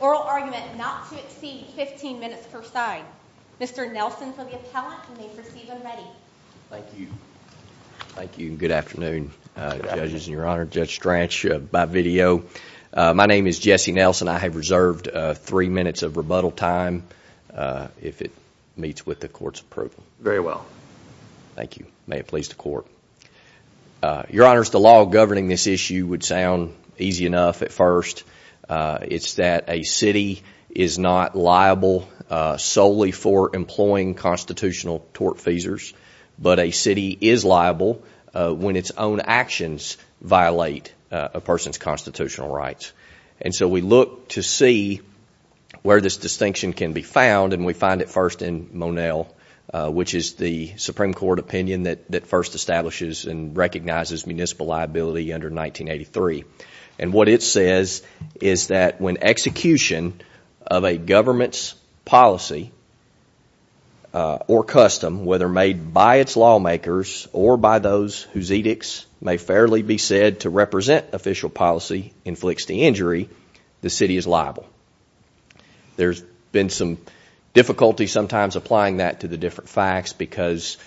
oral argument not to exceed 15 minutes per side. Mr. Nelson for the appellant and you may proceed when ready. Thank you. Thank you and good afternoon judges and your honor. Judge Strach, by video. My name is Jesse Nelson. I have reserved three minutes of rebuttal time if it meets with the court's pleasure. Very well. Thank you. May it please the court. Your honors, the law governing this issue would sound easy enough at first. It's that a city is not liable solely for employing constitutional tort feasors, but a city is liable when its own actions violate a person's constitutional rights. And so we look to see where this distinction can be found and we find it first in Monel, which is the Supreme Court opinion that first establishes and recognizes municipal liability under 1983. And what it says is that when execution of a government's policy or custom, whether made by its lawmakers or by those whose edicts may fairly be said to represent official policy, inflicts the injury, the city is liable. There's been some difficulty sometimes applying that to the different facts because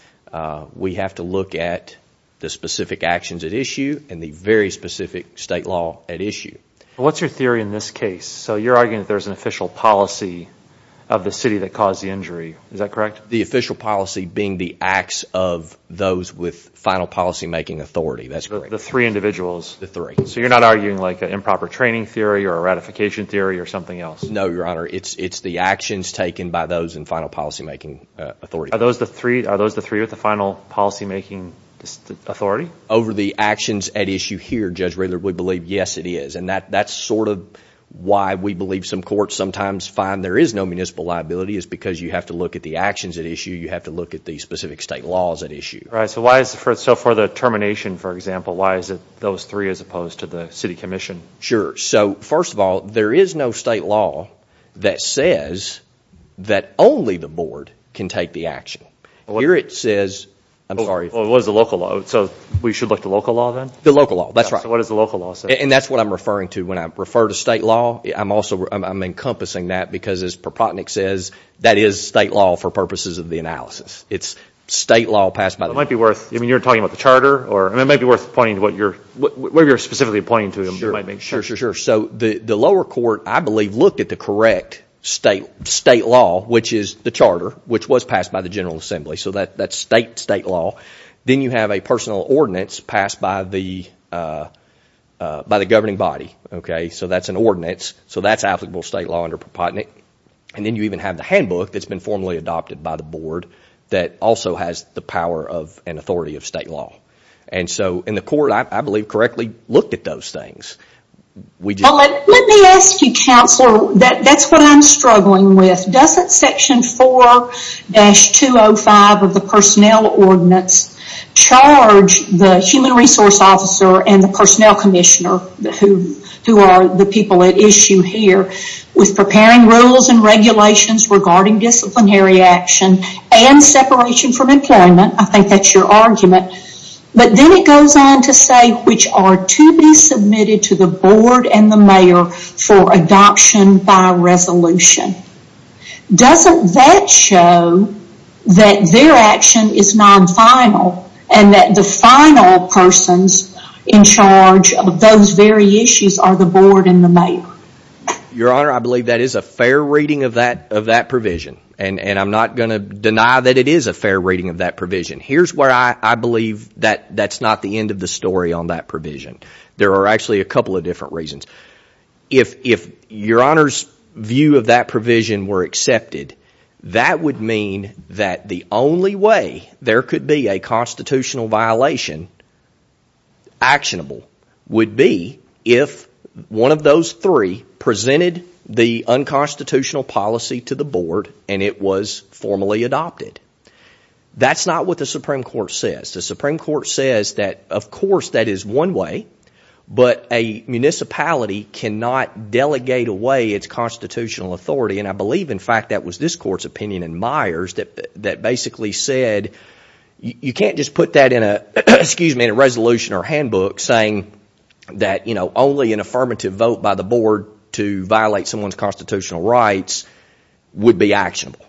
we have to look at the specific actions at issue and the very specific state law at issue. What's your theory in this case? So you're arguing that there's an official policy of the city that caused the injury. Is that correct? The official policy being the acts of those with final policymaking authority. That's correct. So you're not arguing like an improper training theory or a ratification theory or something else? No, Your Honor. It's the actions taken by those in final policymaking authority. Are those the three with the final policymaking authority? Over the actions at issue here, Judge Raylard, we believe, yes, it is. And that's sort of why we believe some courts sometimes find there is no municipal liability is because you have to look at the actions at issue, you have to look at the specific state laws at issue. So for the termination, for example, why is it those three as opposed to the city commission? Sure. So first of all, there is no state law that says that only the board can take the action. Here it says, I'm sorry. What is the local law? So we should look at the local law then? The local law. That's right. So what does the local law say? And that's what I'm referring to when I refer to state law. I'm also encompassing that because as Propotnick says, that is state law for purposes of the analysis. It's state law passed by the board. It might be worth, I mean, you're talking about the charter, or it might be worth pointing to what you're specifically pointing to. Sure, sure, sure. So the lower court, I believe, looked at the correct state law, which is the charter, which was passed by the General Assembly. So that's state law. Then you have a personal ordinance passed by the governing body. So that's an ordinance. So that's applicable state law under Propotnick. And then you even have the handbook that's been formally adopted by the board that also has the power and authority of state law. And so in the court, I believe, correctly looked at those things. Let me ask you, Counselor, that's what I'm struggling with. Doesn't section 4-205 of the personnel ordinance charge the human resource officer and the personnel commissioner, who are the people at issue here, with preparing rules and regulations regarding disciplinary action and separation from employment? I think that's your argument. But then it goes on to say, which are to be submitted to the board and the mayor for adoption by resolution. Doesn't that show that their action is non-final and that the final persons in charge of those very issues are the board and the mayor? Your Honor, I believe that is a fair reading of that provision. And I'm not going to deny that it is a fair reading of that provision. Here's where I believe that that's not the end of the story on that provision. There are actually a couple of different reasons. If Your Honor's view of that provision were accepted, that would mean that the only way there could be a constitutional violation actionable would be if one of those three presented the unconstitutional policy to the board and it was formally adopted. That's not what the Supreme Court says. The Supreme Court says that, of course, that is one way, but a municipality cannot delegate away its constitutional authority. And I believe, in fact, that was this Court's opinion in Myers that basically said you can't just put that in a resolution or handbook saying that only an affirmative vote by the board to violate someone's constitutional rights would be actionable.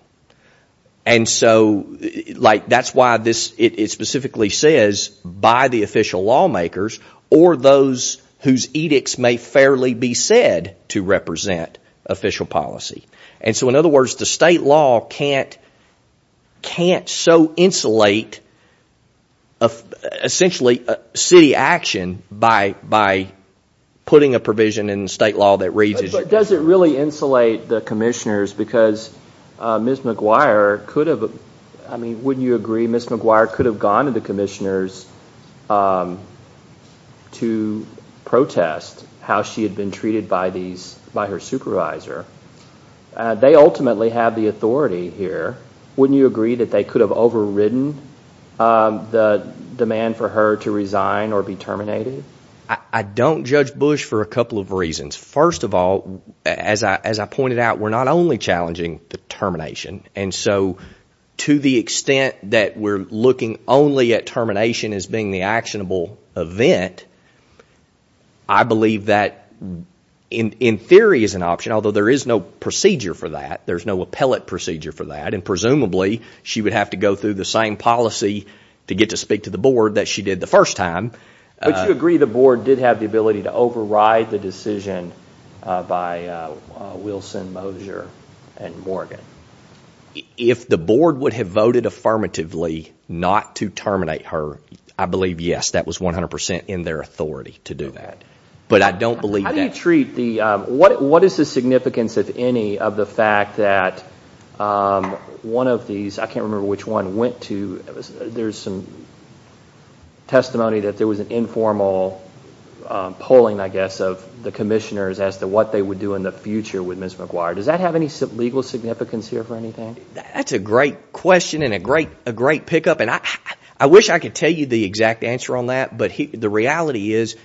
And so that's why it specifically says by the official lawmakers or those whose edicts may fairly be said to represent official policy. And so, in other words, the state law can't so insulate essentially city action by putting a provision in the state law that reads as... But does it really insulate the commissioners because Ms. McGuire could have, I mean, wouldn't you agree, Ms. McGuire could have gone to the commissioners to protest how she had been treated by her supervisor. They ultimately have the authority here. Wouldn't you agree that they could have overridden the demand for her to resign or be terminated? I don't judge Bush for a couple of reasons. First of all, as I pointed out, we're not only challenging the termination. And so to the extent that we're looking only at termination as being the actionable event, I believe that in theory is an option. Although there is no procedure for that. There's no appellate procedure for that. And presumably she would have to go through the same policy to get to speak to the board that she did the first time. Would you agree the board did have the ability to override the decision by Wilson, Moser, and Morgan? If the board would have voted affirmatively not to terminate her, I believe, yes, that was 100% in their authority to do that. But I don't believe that... How do you treat the, what is the significance, if any, of the fact that one of these, I can't remember which one, went to, there's some testimony that there was an informal polling, I guess, of the commissioners as to what they would do in the future with Ms. McGuire. Does that have any legal significance here for anything? That's a great question and a great pickup. And I wish I could tell you the exact answer on that. But the reality is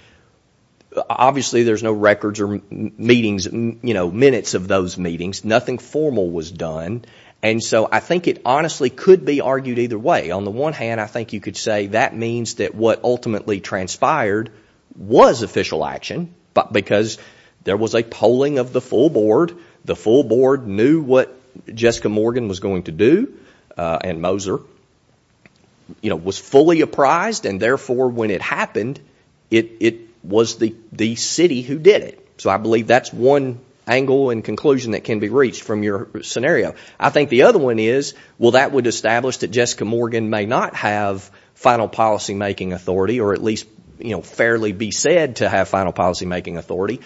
obviously there's no records or meetings, you know, minutes of those meetings. Nothing formal was done. And so I think it honestly could be argued either way. On the one hand, I think you could say that means that what ultimately transpired was official action because there was a polling of the full board. The full board knew what Jessica Morgan was going to do and Moser, you know, was fully apprised. And therefore, when it happened, it was the city who did it. So I believe that's one angle and conclusion that can be reached from your scenario. I think the other one is, well, that would establish that Jessica Morgan may not have final policymaking authority or at least, you know, fairly be said to have final policymaking authority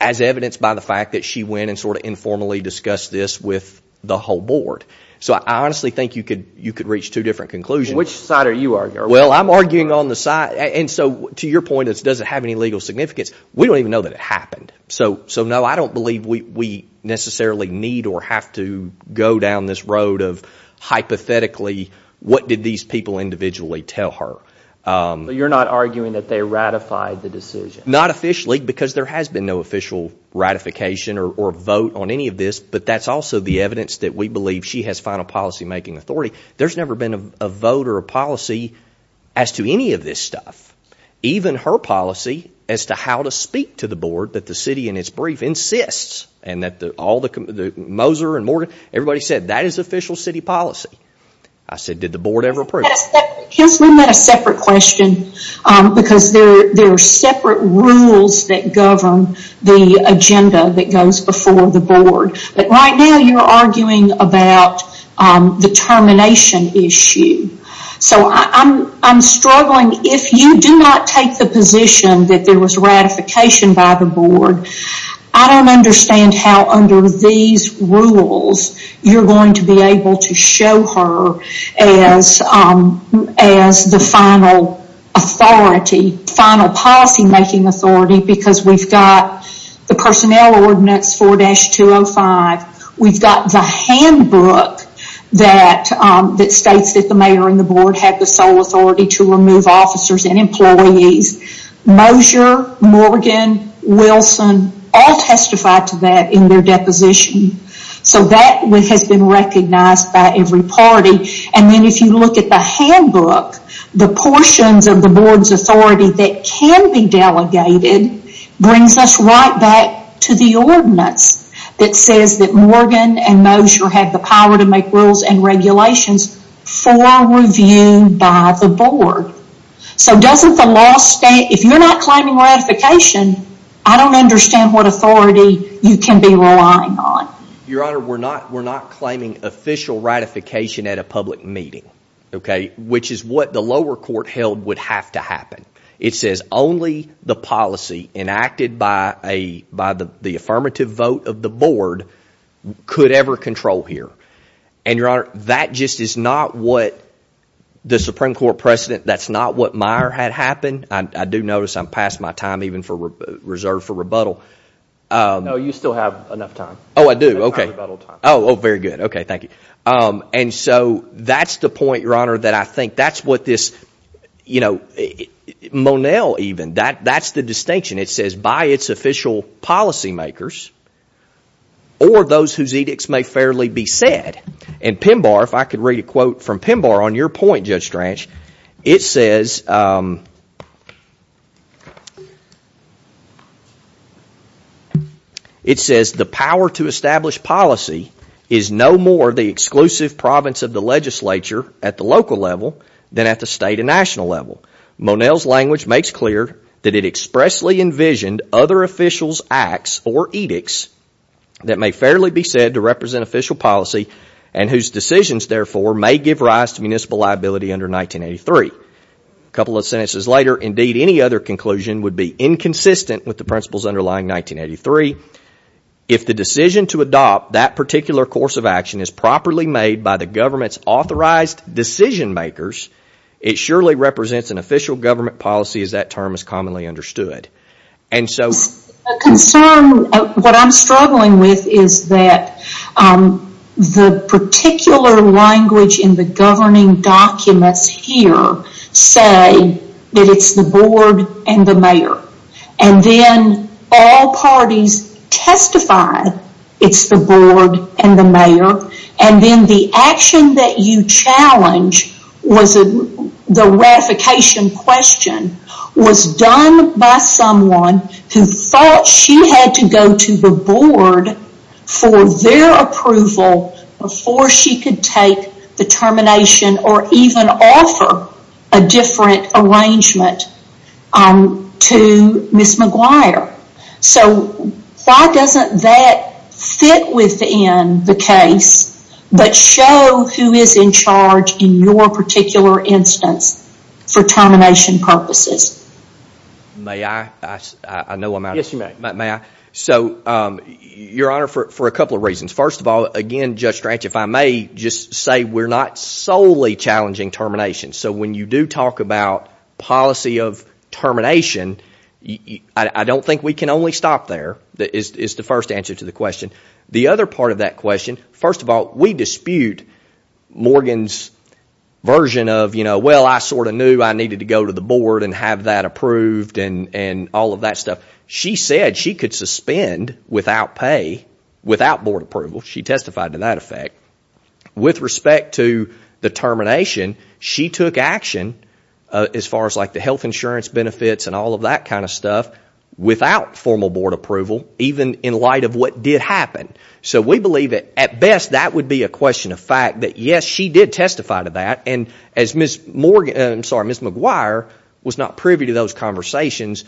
as evidenced by the fact that she went and sort of informally discussed this with the whole board. So I honestly think you could reach two different conclusions. Which side are you arguing? Well, I'm arguing on the side. And so to your point, it doesn't have any legal significance. We don't even know that it happened. So no, I don't believe we necessarily need or have to go down this road of hypothetically what did these people individually tell her. But you're not arguing that they ratified the decision? Not officially because there has been no official ratification or vote on any of this. But that's also the evidence that we believe she has final policymaking authority. There's never been a vote or a policy as to any of this stuff. Even her policy as to how to speak to the board that the city in its brief insists. And that all the, Moser and Morgan, everybody said that is official city policy. I said, did the board ever approve? Yes, we met a separate question because there are separate rules that govern the agenda that goes before the board. But right now you're arguing about the termination issue. So I'm struggling. If you do not take the position that there was ratification by the board, I don't understand how under these rules you're going to be able to show her as the final authority, final policymaking authority because we've got the personnel ordinance 4-205. We've got the handbook that states that the mayor and the board have the sole authority to remove officers and employees. Moser, Morgan, Wilson all testified to that in their deposition. So that has been recognized by every party. And then if you look at the handbook, the portions of the board's authority that can be delegated brings us right back to the ordinance that says that Morgan and Moser have the power to make rules and regulations for review by the board. So doesn't the law state, if you're not claiming ratification, I don't understand what authority you can be relying on. Your Honor, we're not claiming official ratification at a public meeting, which is what the lower court held would have to happen. It says only the policy enacted by the affirmative vote of the board could ever control here. And, Your Honor, that just is not what the Supreme Court precedent, that's not what Meyer had happen. I do notice I'm past my time even reserved for rebuttal. No, you still have enough time. Oh, I do. Oh, very good. Okay, thank you. And so that's the point, Your Honor, that I think that's what this, you know, Monell even, that's the distinction. It says by its official policy makers or those whose edicts may fairly be said. And Pinbar, if I could read a quote from Pinbar on your point, Judge Stranch, it says the power to establish policy is no more the exclusive province of the legislature at the local level than at the state and national level. Monell's language makes clear that it expressly envisioned other officials' acts or edicts that may fairly be said to represent official policy and whose decisions, therefore, may give rise to municipal liability under 1983. A couple of sentences later, indeed any other conclusion would be inconsistent with the principles underlying 1983. If the decision to adopt that particular course of action is properly made by the government's authorized decision makers, it surely represents an official government policy as that term is commonly understood. A concern, what I'm struggling with is that the particular language in the governing documents here say that it's the board and the mayor. And then all parties testify it's the board and the mayor. And then the action that you challenge was the ratification question was done by someone who thought she had to go to the board for their approval before she could take the termination or even offer a different arrangement to Ms. McGuire. So why doesn't that fit within the case but show who is in charge in your particular instance for termination purposes? May I? I know I'm out of time. Yes, you may. So, Your Honor, for a couple of reasons. First of all, again, Judge Stranch, if I may just say we're not solely challenging termination. So when you do talk about policy of termination, I don't think we can only stop there is the first answer to the question. The other part of that question, first of all, we dispute Morgan's version of well, I sort of knew I needed to go to the board and have that approved and all of that stuff. She said she could suspend without pay, without board approval. She testified to that effect. With respect to the termination, she took action as far as the health insurance benefits and all of that kind of stuff without formal board approval even in light of what did happen. So we believe at best that would be a question of fact that yes, she did testify to that and as Ms. McGuire was not privy to those conversations,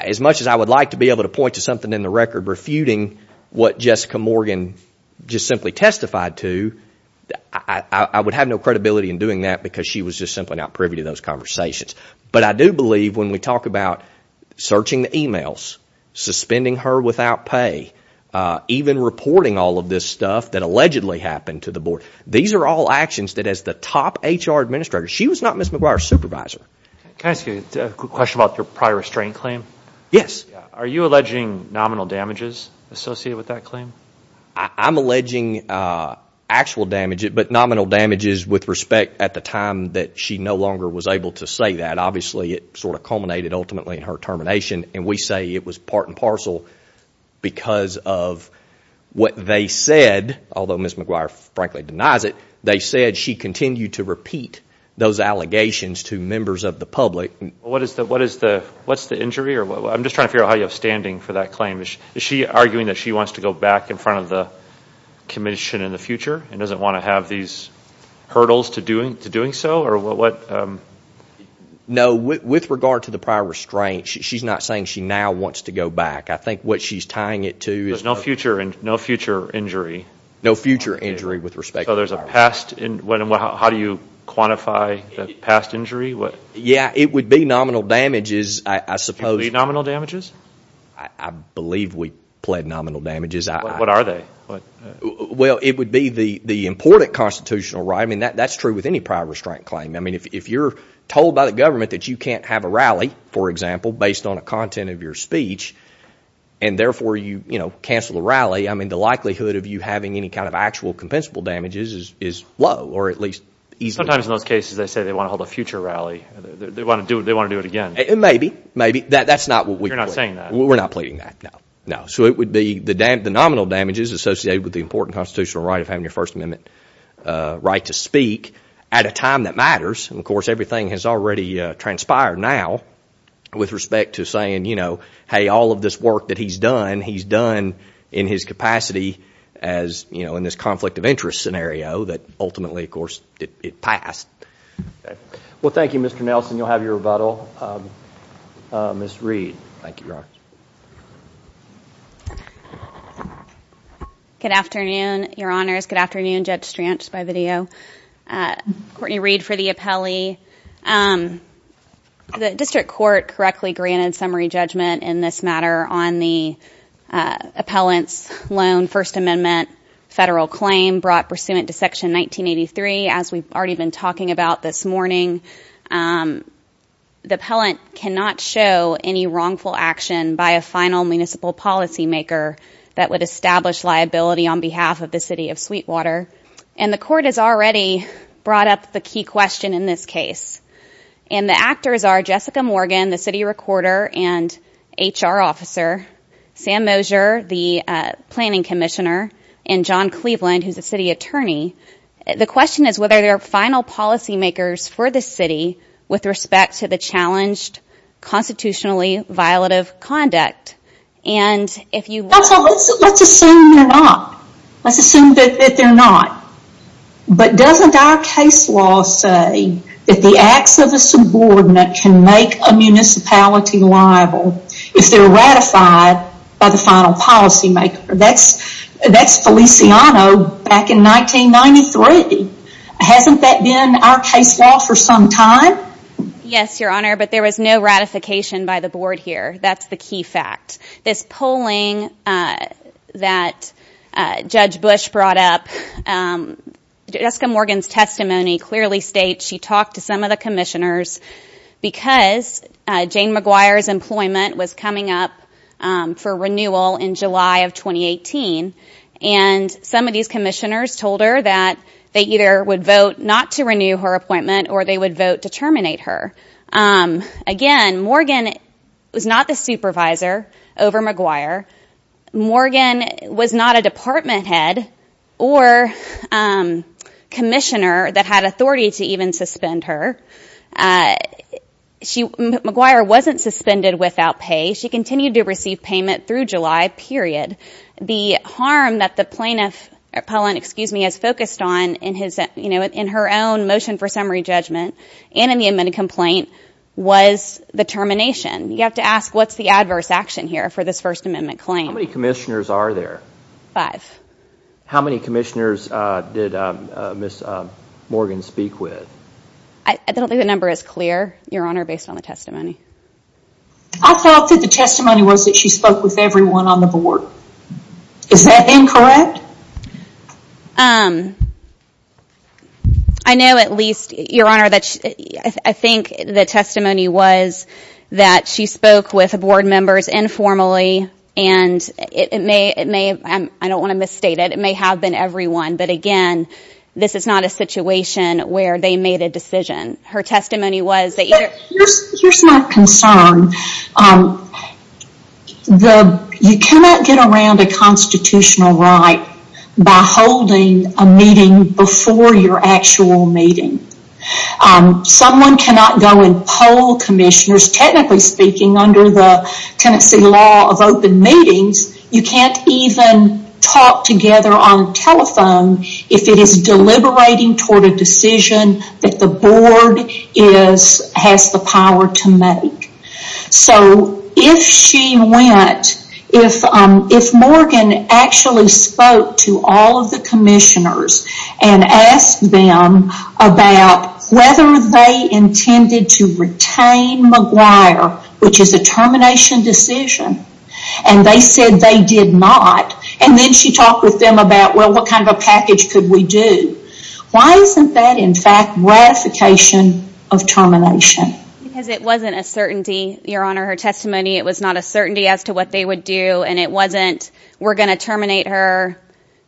as much as I would like to be able to point to something in the record refuting what Jessica Morgan just simply testified to, I would have no credibility in doing that because she was just simply not privy to those conversations. But I do believe when we talk about searching the emails, suspending her without pay, even reporting all of this stuff that allegedly happened to the board, these are all actions that as the top HR administrator, she was not Ms. McGuire's supervisor. Can I ask you a question about your prior restraint claim? Yes. Are you alleging nominal damages associated with that claim? I'm alleging actual damage, but nominal damages with respect at the time that she no longer was able to say that. Obviously it sort of culminated ultimately in her termination and we say it was part and parcel because of what they said, although Ms. McGuire frankly denies it, they said she continued to repeat those allegations to members of the public. What's the injury? I'm just trying to figure out how you're standing for that claim. Is she arguing that she wants to go back in front of the commission in the future and doesn't want to have these hurdles to doing so? No. With regard to the prior restraint, she's not saying she now wants to go back. I think what she's tying it to is no future injury. No future injury with respect to prior restraint. How do you quantify the past injury? Yeah, it would be nominal damages, I suppose. Do you believe nominal damages? I believe we pled nominal damages. What are they? Well, it would be the important constitutional right. I mean, that's true with any prior restraint claim. I mean, if you're told by the government that you can't have a rally, for example, based on a content of your speech and therefore you cancel the rally, I mean the likelihood of you having any kind of actual compensable damages is low or at least easy. Sometimes in those cases they say they want to hold a future rally. They want to do it again. Maybe, maybe. That's not what we're pleading. You're not saying that. We're not pleading that, no. So it would be the nominal damages associated with the important constitutional right of having your First Amendment right to speak at a time that matters. Of course, everything has already transpired now with respect to saying, you know, hey, all of this work that he's done, he's done in his capacity as, you know, in this conflict of interest scenario that ultimately, of course, it passed. Well, thank you, Mr. Nelson. You'll have your rebuttal. Ms. Reed. Thank you, Your Honor. Good afternoon, Your Honors. Good afternoon, Judge Strantz by video. Courtney Reed for the appellee. The district court correctly granted summary judgment in this matter on the appellant's loan, First Amendment, federal claim brought pursuant to Section 1983, as we've already been talking about this morning. The appellant cannot show any wrongful action by a final municipal policymaker that would establish liability on behalf of the city of Sweetwater. And the court has already brought up the key question in this case. And the actors are Jessica Morgan, the city recorder and HR officer, Sam Mosier, the planning commissioner, and John Cleveland, who's the city attorney. The question is whether there are final policymakers for the city with respect to the challenged constitutionally violative conduct. Let's assume they're not. Let's assume that they're not. But doesn't our case law say that the acts of a subordinate can make a municipality liable if they're ratified by the final policymaker? That's Feliciano back in 1993. Hasn't that been our case law for some time? Yes, Your Honor, but there was no ratification by the board here. That's the key fact. This polling that Judge Bush brought up, Jessica Morgan's testimony clearly states she talked to some of the commissioners because Jane Maguire's employment was coming up for renewal in July of 2018. And some of these commissioners told her that they either would vote not to renew her appointment or they would vote to terminate her. Again, Morgan was not the supervisor over Maguire. Morgan was not a department head or commissioner that had authority to even suspend her. Maguire wasn't suspended without pay. She continued to receive payment through July, period. The harm that the plaintiff has focused on in her own motion for summary judgment and in the amendment complaint was the termination. You have to ask what's the adverse action here for this First Amendment claim. How many commissioners are there? Five. How many commissioners did Ms. Morgan speak with? I don't think the number is clear, Your Honor, based on the testimony. I thought that the testimony was that she spoke with everyone on the board. Is that incorrect? I know at least, Your Honor, I think the testimony was that she spoke with board members informally. And it may, I don't want to misstate it, it may have been everyone. But, again, this is not a situation where they made a decision. Her testimony was that- Here's my concern. You cannot get around a constitutional right by holding a meeting before your actual meeting. Someone cannot go and poll commissioners, technically speaking, under the Tennessee law of open meetings. You can't even talk together on telephone if it is deliberating toward a decision that the board has the power to make. So if she went, if Morgan actually spoke to all of the commissioners and asked them about whether they intended to retain McGuire, which is a termination decision, and they said they did not, and then she talked with them about, well, what kind of a package could we do? Why isn't that, in fact, ratification of termination? Because it wasn't a certainty, Your Honor, her testimony. It was not a certainty as to what they would do, and it wasn't, we're going to terminate her.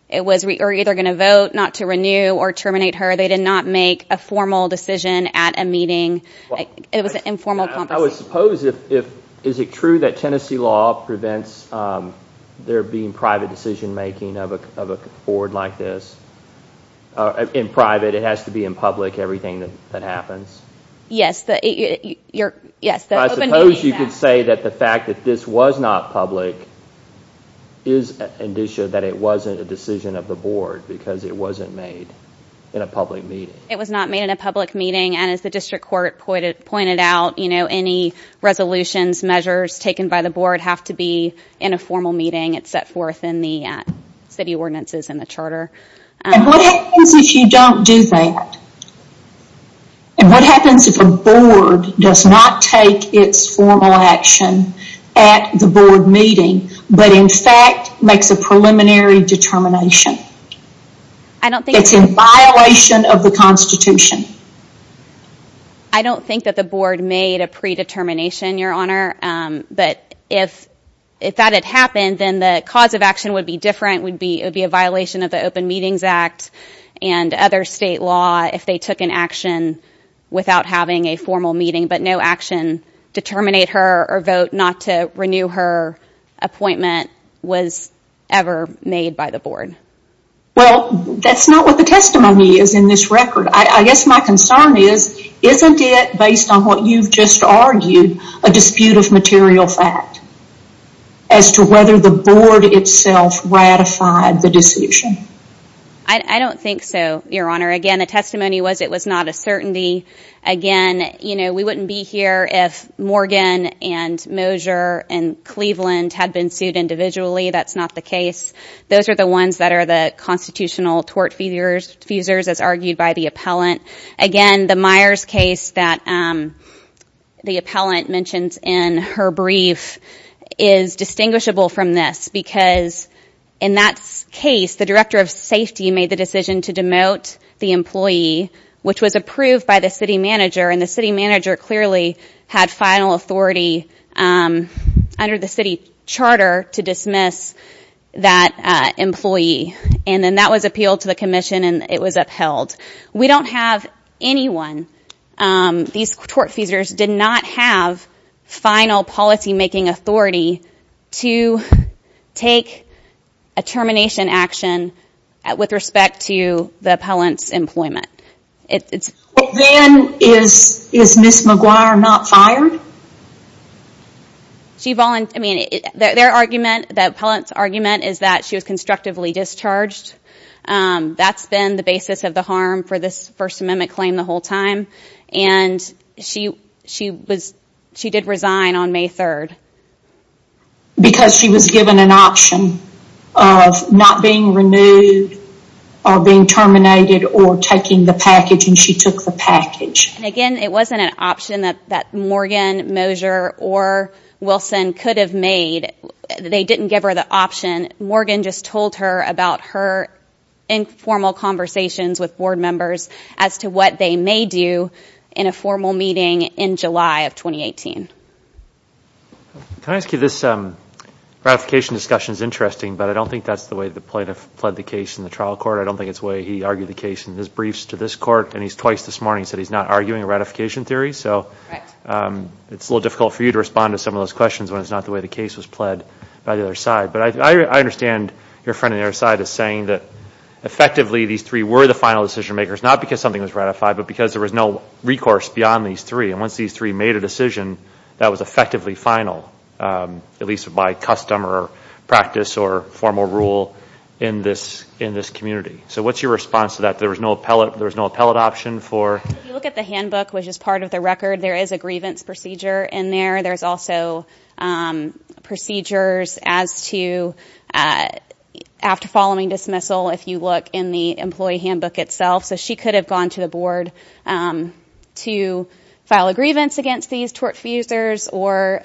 It was, we're either going to vote not to renew or terminate her. They did not make a formal decision at a meeting. It was an informal conversation. I would suppose if, is it true that Tennessee law prevents there being private decision-making of a board like this? In private, it has to be in public, everything that happens? Yes. I suppose you could say that the fact that this was not public is an indicia that it wasn't a decision of the board because it wasn't made in a public meeting. It was not made in a public meeting, and as the district court pointed out, any resolutions, measures taken by the board have to be in a formal meeting. It's set forth in the city ordinances and the charter. And what happens if you don't do that? And what happens if a board does not take its formal action at the board meeting, but in fact makes a preliminary determination? It's in violation of the Constitution. I don't think that the board made a predetermination, Your Honor. But if that had happened, then the cause of action would be different. It would be a violation of the Open Meetings Act and other state law if they took an action without having a formal meeting. But no action to terminate her or vote not to renew her appointment was ever made by the board. Well, that's not what the testimony is in this record. I guess my concern is isn't it, based on what you've just argued, a dispute of material fact as to whether the board itself ratified the decision? I don't think so, Your Honor. Again, the testimony was it was not a certainty. Again, you know, we wouldn't be here if Morgan and Moser and Cleveland had been sued individually. That's not the case. Those are the ones that are the constitutional tort fuses, as argued by the appellant. Again, the Myers case that the appellant mentions in her brief is distinguishable from this, because in that case, the director of safety made the decision to demote the employee, which was approved by the city manager. And the city manager clearly had final authority under the city charter to dismiss that employee. And then that was appealed to the commission and it was upheld. We don't have anyone. These tort fuses did not have final policymaking authority to take a termination action with respect to the appellant's employment. Then is Ms. McGuire not fired? I mean, their argument, the appellant's argument, is that she was constructively discharged. That's been the basis of the harm for this First Amendment claim the whole time. And she did resign on May 3rd. Because she was given an option of not being renewed or being terminated or taking the package, and she took the package. Again, it wasn't an option that Morgan, Moser, or Wilson could have made. They didn't give her the option. Morgan just told her about her informal conversations with board members as to what they may do in a formal meeting in July of 2018. Can I ask you, this ratification discussion is interesting, but I don't think that's the way the plaintiff pled the case in the trial court. I don't think it's the way he argued the case in his briefs to this court, and he's twice this morning said he's not arguing a ratification theory. So it's a little difficult for you to respond to some of those questions when it's not the way the case was pled by the other side. But I understand your friend on the other side is saying that effectively these three were the final decision makers, not because something was ratified, but because there was no recourse beyond these three. And once these three made a decision, that was effectively final, at least by custom or practice or formal rule in this community. So what's your response to that? There was no appellate option for? If you look at the handbook, which is part of the record, there is a grievance procedure in there. There's also procedures as to, after following dismissal, if you look in the employee handbook itself. So she could have gone to the board to file a grievance against these tortfusers or,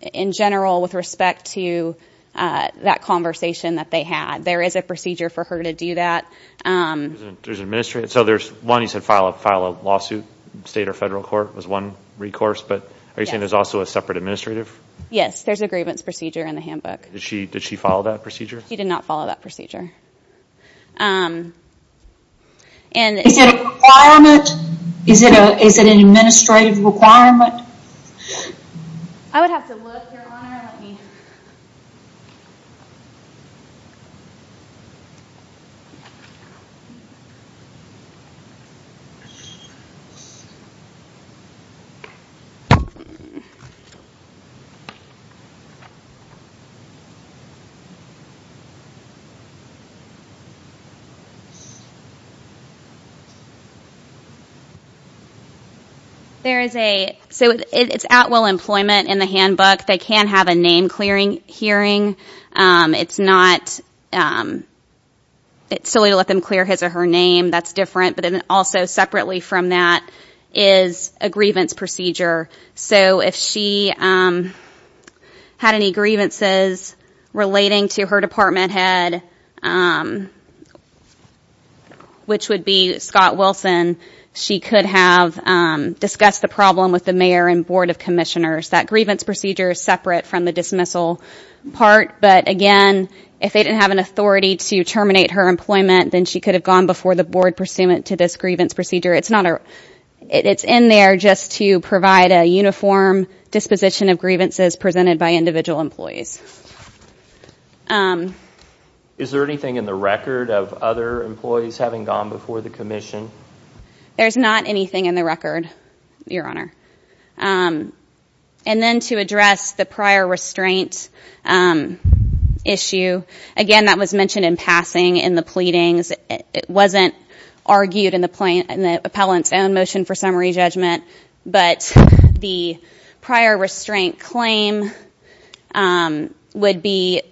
in general, with respect to that conversation that they had. There is a procedure for her to do that. So there's one, you said, file a lawsuit, state or federal court was one recourse. But are you saying there's also a separate administrative? Yes, there's a grievance procedure in the handbook. Did she follow that procedure? She did not follow that procedure. Is it a requirement? Is it an administrative requirement? I would have to look. I would have to look. You're lying. You're lying. You're lying. You're lying. It's at will employment in the handbook. They can have a name clearing hearing. It's not silly to let them clear his or her name. That's different. But also separately from that is a grievance procedure. So if she had any grievances relating to her department head, which would be Scott Wilson, she could have discussed the problem with the mayor and board of commissioners. That grievance procedure is separate from the dismissal part. But again, if they didn't have an authority to terminate her employment, then she could have gone before the board pursuant to this grievance procedure. It's not it's in there just to provide a uniform disposition of grievances presented by individual employees. Is there anything in the record of other employees having gone before the commission? There's not anything in the record, Your Honor. And then to address the prior restraint issue, again, that was mentioned in passing in the pleadings. It wasn't argued in the plane and the appellant's own motion for summary judgment. But the prior restraint claim would be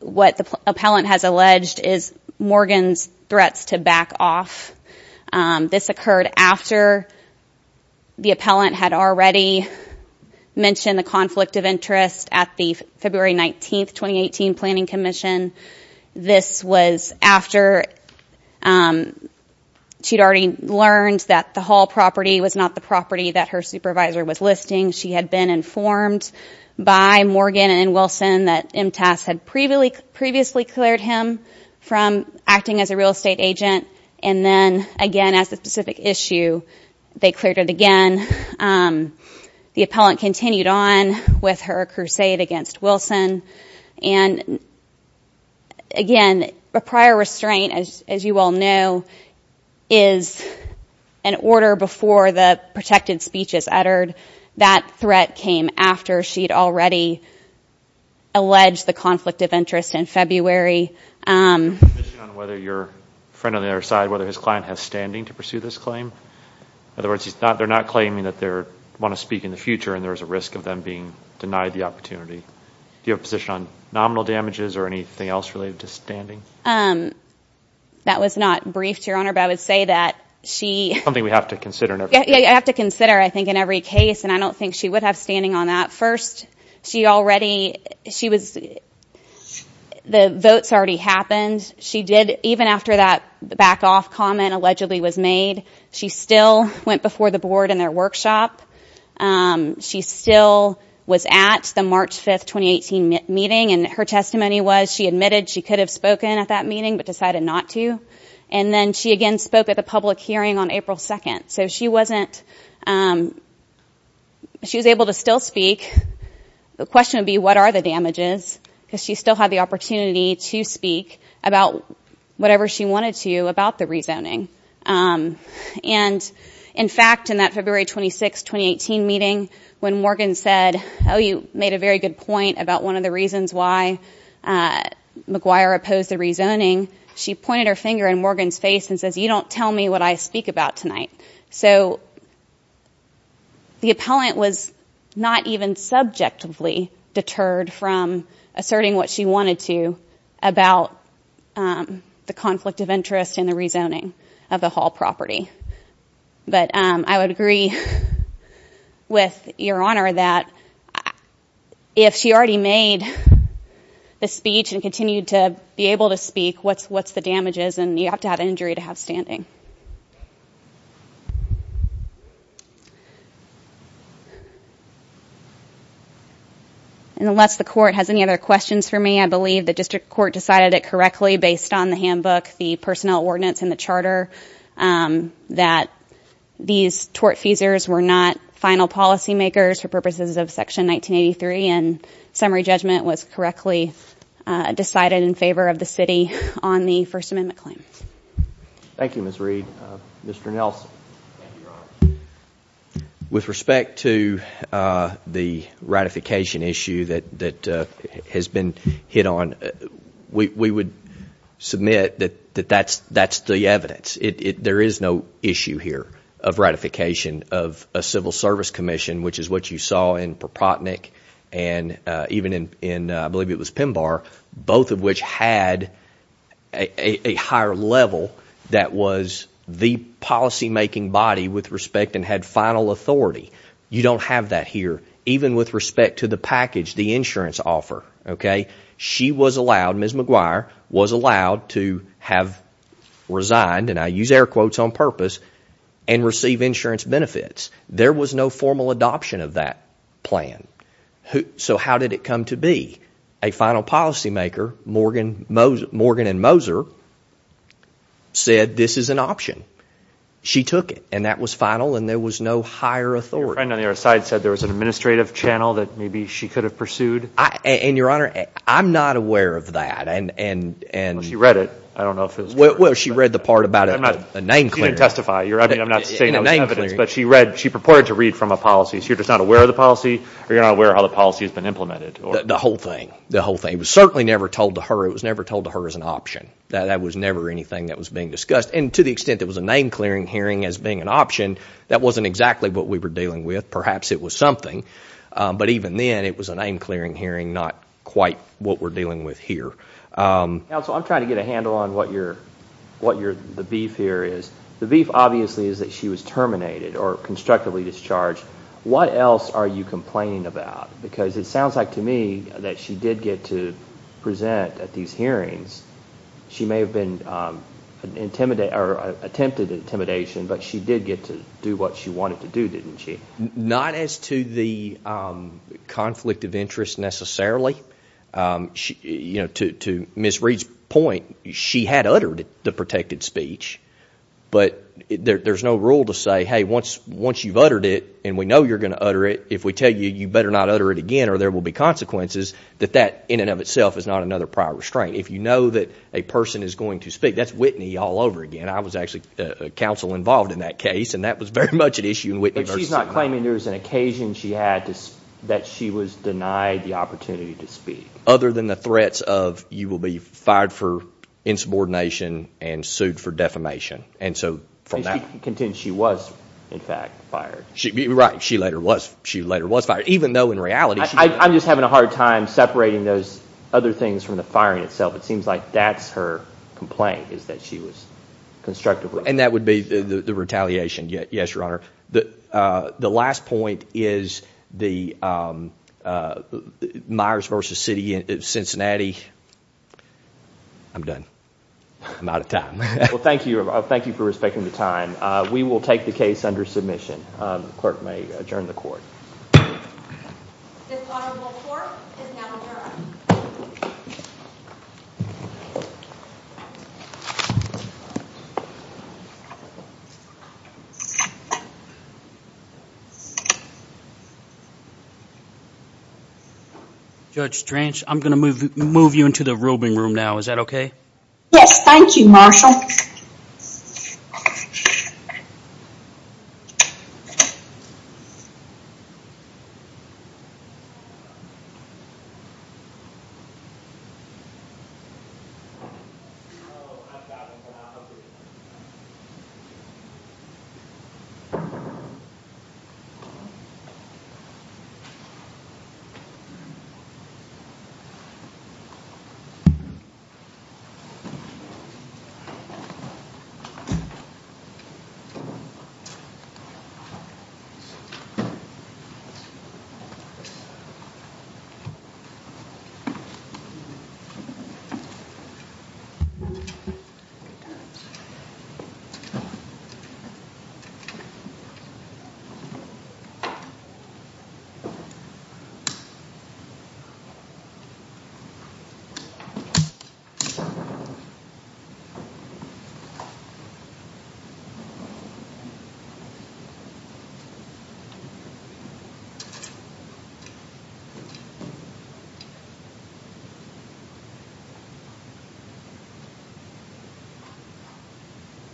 what the appellant has alleged is Morgan's threats to back off. This occurred after the appellant had already mentioned the conflict of interest at the February 19th, 2018 planning commission. This was after she'd already learned that the Hall property was not the property that her supervisor was listing. She had been informed by Morgan and Wilson that M-TAS had previously cleared him from acting as a real estate agent. And then again, as a specific issue, they cleared it again. The appellant continued on with her crusade against Wilson. And again, a prior restraint, as you all know, is an order before the protected speech is uttered. That threat came after she had already alleged the conflict of interest in February. Is there a condition on whether your friend on the other side, whether his client has standing to pursue this claim? In other words, they're not claiming that they want to speak in the future and there is a risk of them being denied the opportunity. Do you have a position on nominal damages or anything else related to standing? That was not briefed, Your Honor, but I would say that she... Something we have to consider. I have to consider, I think, in every case, and I don't think she would have standing on that. First, she already, she was, the votes already happened. She did, even after that back off comment allegedly was made, she still went before the board in their workshop. She still was at the March 5th, 2018 meeting. And her testimony was she admitted she could have spoken at that meeting but decided not to. And then she again spoke at the public hearing on April 2nd. So she wasn't, she was able to still speak. The question would be, what are the damages? Because she still had the opportunity to speak about whatever she wanted to about the rezoning. And in fact, in that February 26th, 2018 meeting, when Morgan said, oh, you made a very good point about one of the reasons why McGuire opposed the rezoning, she pointed her finger in Morgan's face and says, you don't tell me what I speak about tonight. So the appellant was not even subjectively deterred from asserting what she wanted to about the conflict of interest in the rezoning of the Hall property. But I would agree with Your Honor that if she already made the speech and continued to be able to speak, what's the damages? And you have to have an injury to have standing. Thank you. Unless the court has any other questions for me, I believe the district court decided it correctly, based on the handbook, the personnel ordinance and the charter, that these tortfeasors were not final policymakers for purposes of Section 1983 and summary judgment was correctly decided in favor of the city on the First Amendment claim. Thank you, Ms. Reed. Mr. Nelson. With respect to the ratification issue that has been hit on, we would submit that that's the evidence. There is no issue here of ratification of a civil service commission, which is what you saw in Propotnick and even in, I believe it was Pember, both of which had a higher level that was the policymaking body with respect and had final authority. You don't have that here, even with respect to the package, the insurance offer. She was allowed, Ms. McGuire was allowed to have resigned, and I use air quotes on purpose, and receive insurance benefits. There was no formal adoption of that plan. So how did it come to be? A final policymaker, Morgan and Moser, said this is an option. She took it and that was final and there was no higher authority. Your friend on the other side said there was an administrative channel that maybe she could have pursued. Your Honor, I'm not aware of that. She read it. Well, she read the part about a name clearing. She didn't testify. I'm not saying that was evidence, but she purported to read from a policy. So you're just not aware of the policy or you're not aware of how the policy has been implemented? The whole thing. The whole thing. It was certainly never told to her. It was never told to her as an option. That was never anything that was being discussed. And to the extent there was a name clearing hearing as being an option, that wasn't exactly what we were dealing with. Perhaps it was something. But even then, it was a name clearing hearing, not quite what we're dealing with here. Counsel, I'm trying to get a handle on what the beef here is. The beef obviously is that she was terminated or constructively discharged. What else are you complaining about? Because it sounds like to me that she did get to present at these hearings. She may have attempted intimidation, but she did get to do what she wanted to do, didn't she? Not as to the conflict of interest necessarily. To Ms. Reed's point, she had uttered the protected speech, but there's no rule to say, hey, once you've uttered it and we know you're going to utter it, if we tell you you better not utter it again or there will be consequences, that that in and of itself is not another prior restraint. If you know that a person is going to speak, that's Whitney all over again. I was actually counsel involved in that case, and that was very much at issue in Whitney versus— But she's not claiming there was an occasion she had that she was denied the opportunity to speak. Other than the threats of you will be fired for insubordination and sued for defamation. And so from that— And she contends she was, in fact, fired. Right, she later was fired, even though in reality— I'm just having a hard time separating those other things from the firing itself. It seems like that's her complaint, is that she was constructive with— And that would be the retaliation, yes, Your Honor. The last point is the Myers versus Cincinnati. I'm done. I'm out of time. Well, thank you. Thank you for respecting the time. We will take the case under submission. The clerk may adjourn the court. This audible court is now adjourned. Judge Trench, I'm going to move you into the roving room now. Is that okay? Yes, thank you, Marshall.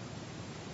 Thank you.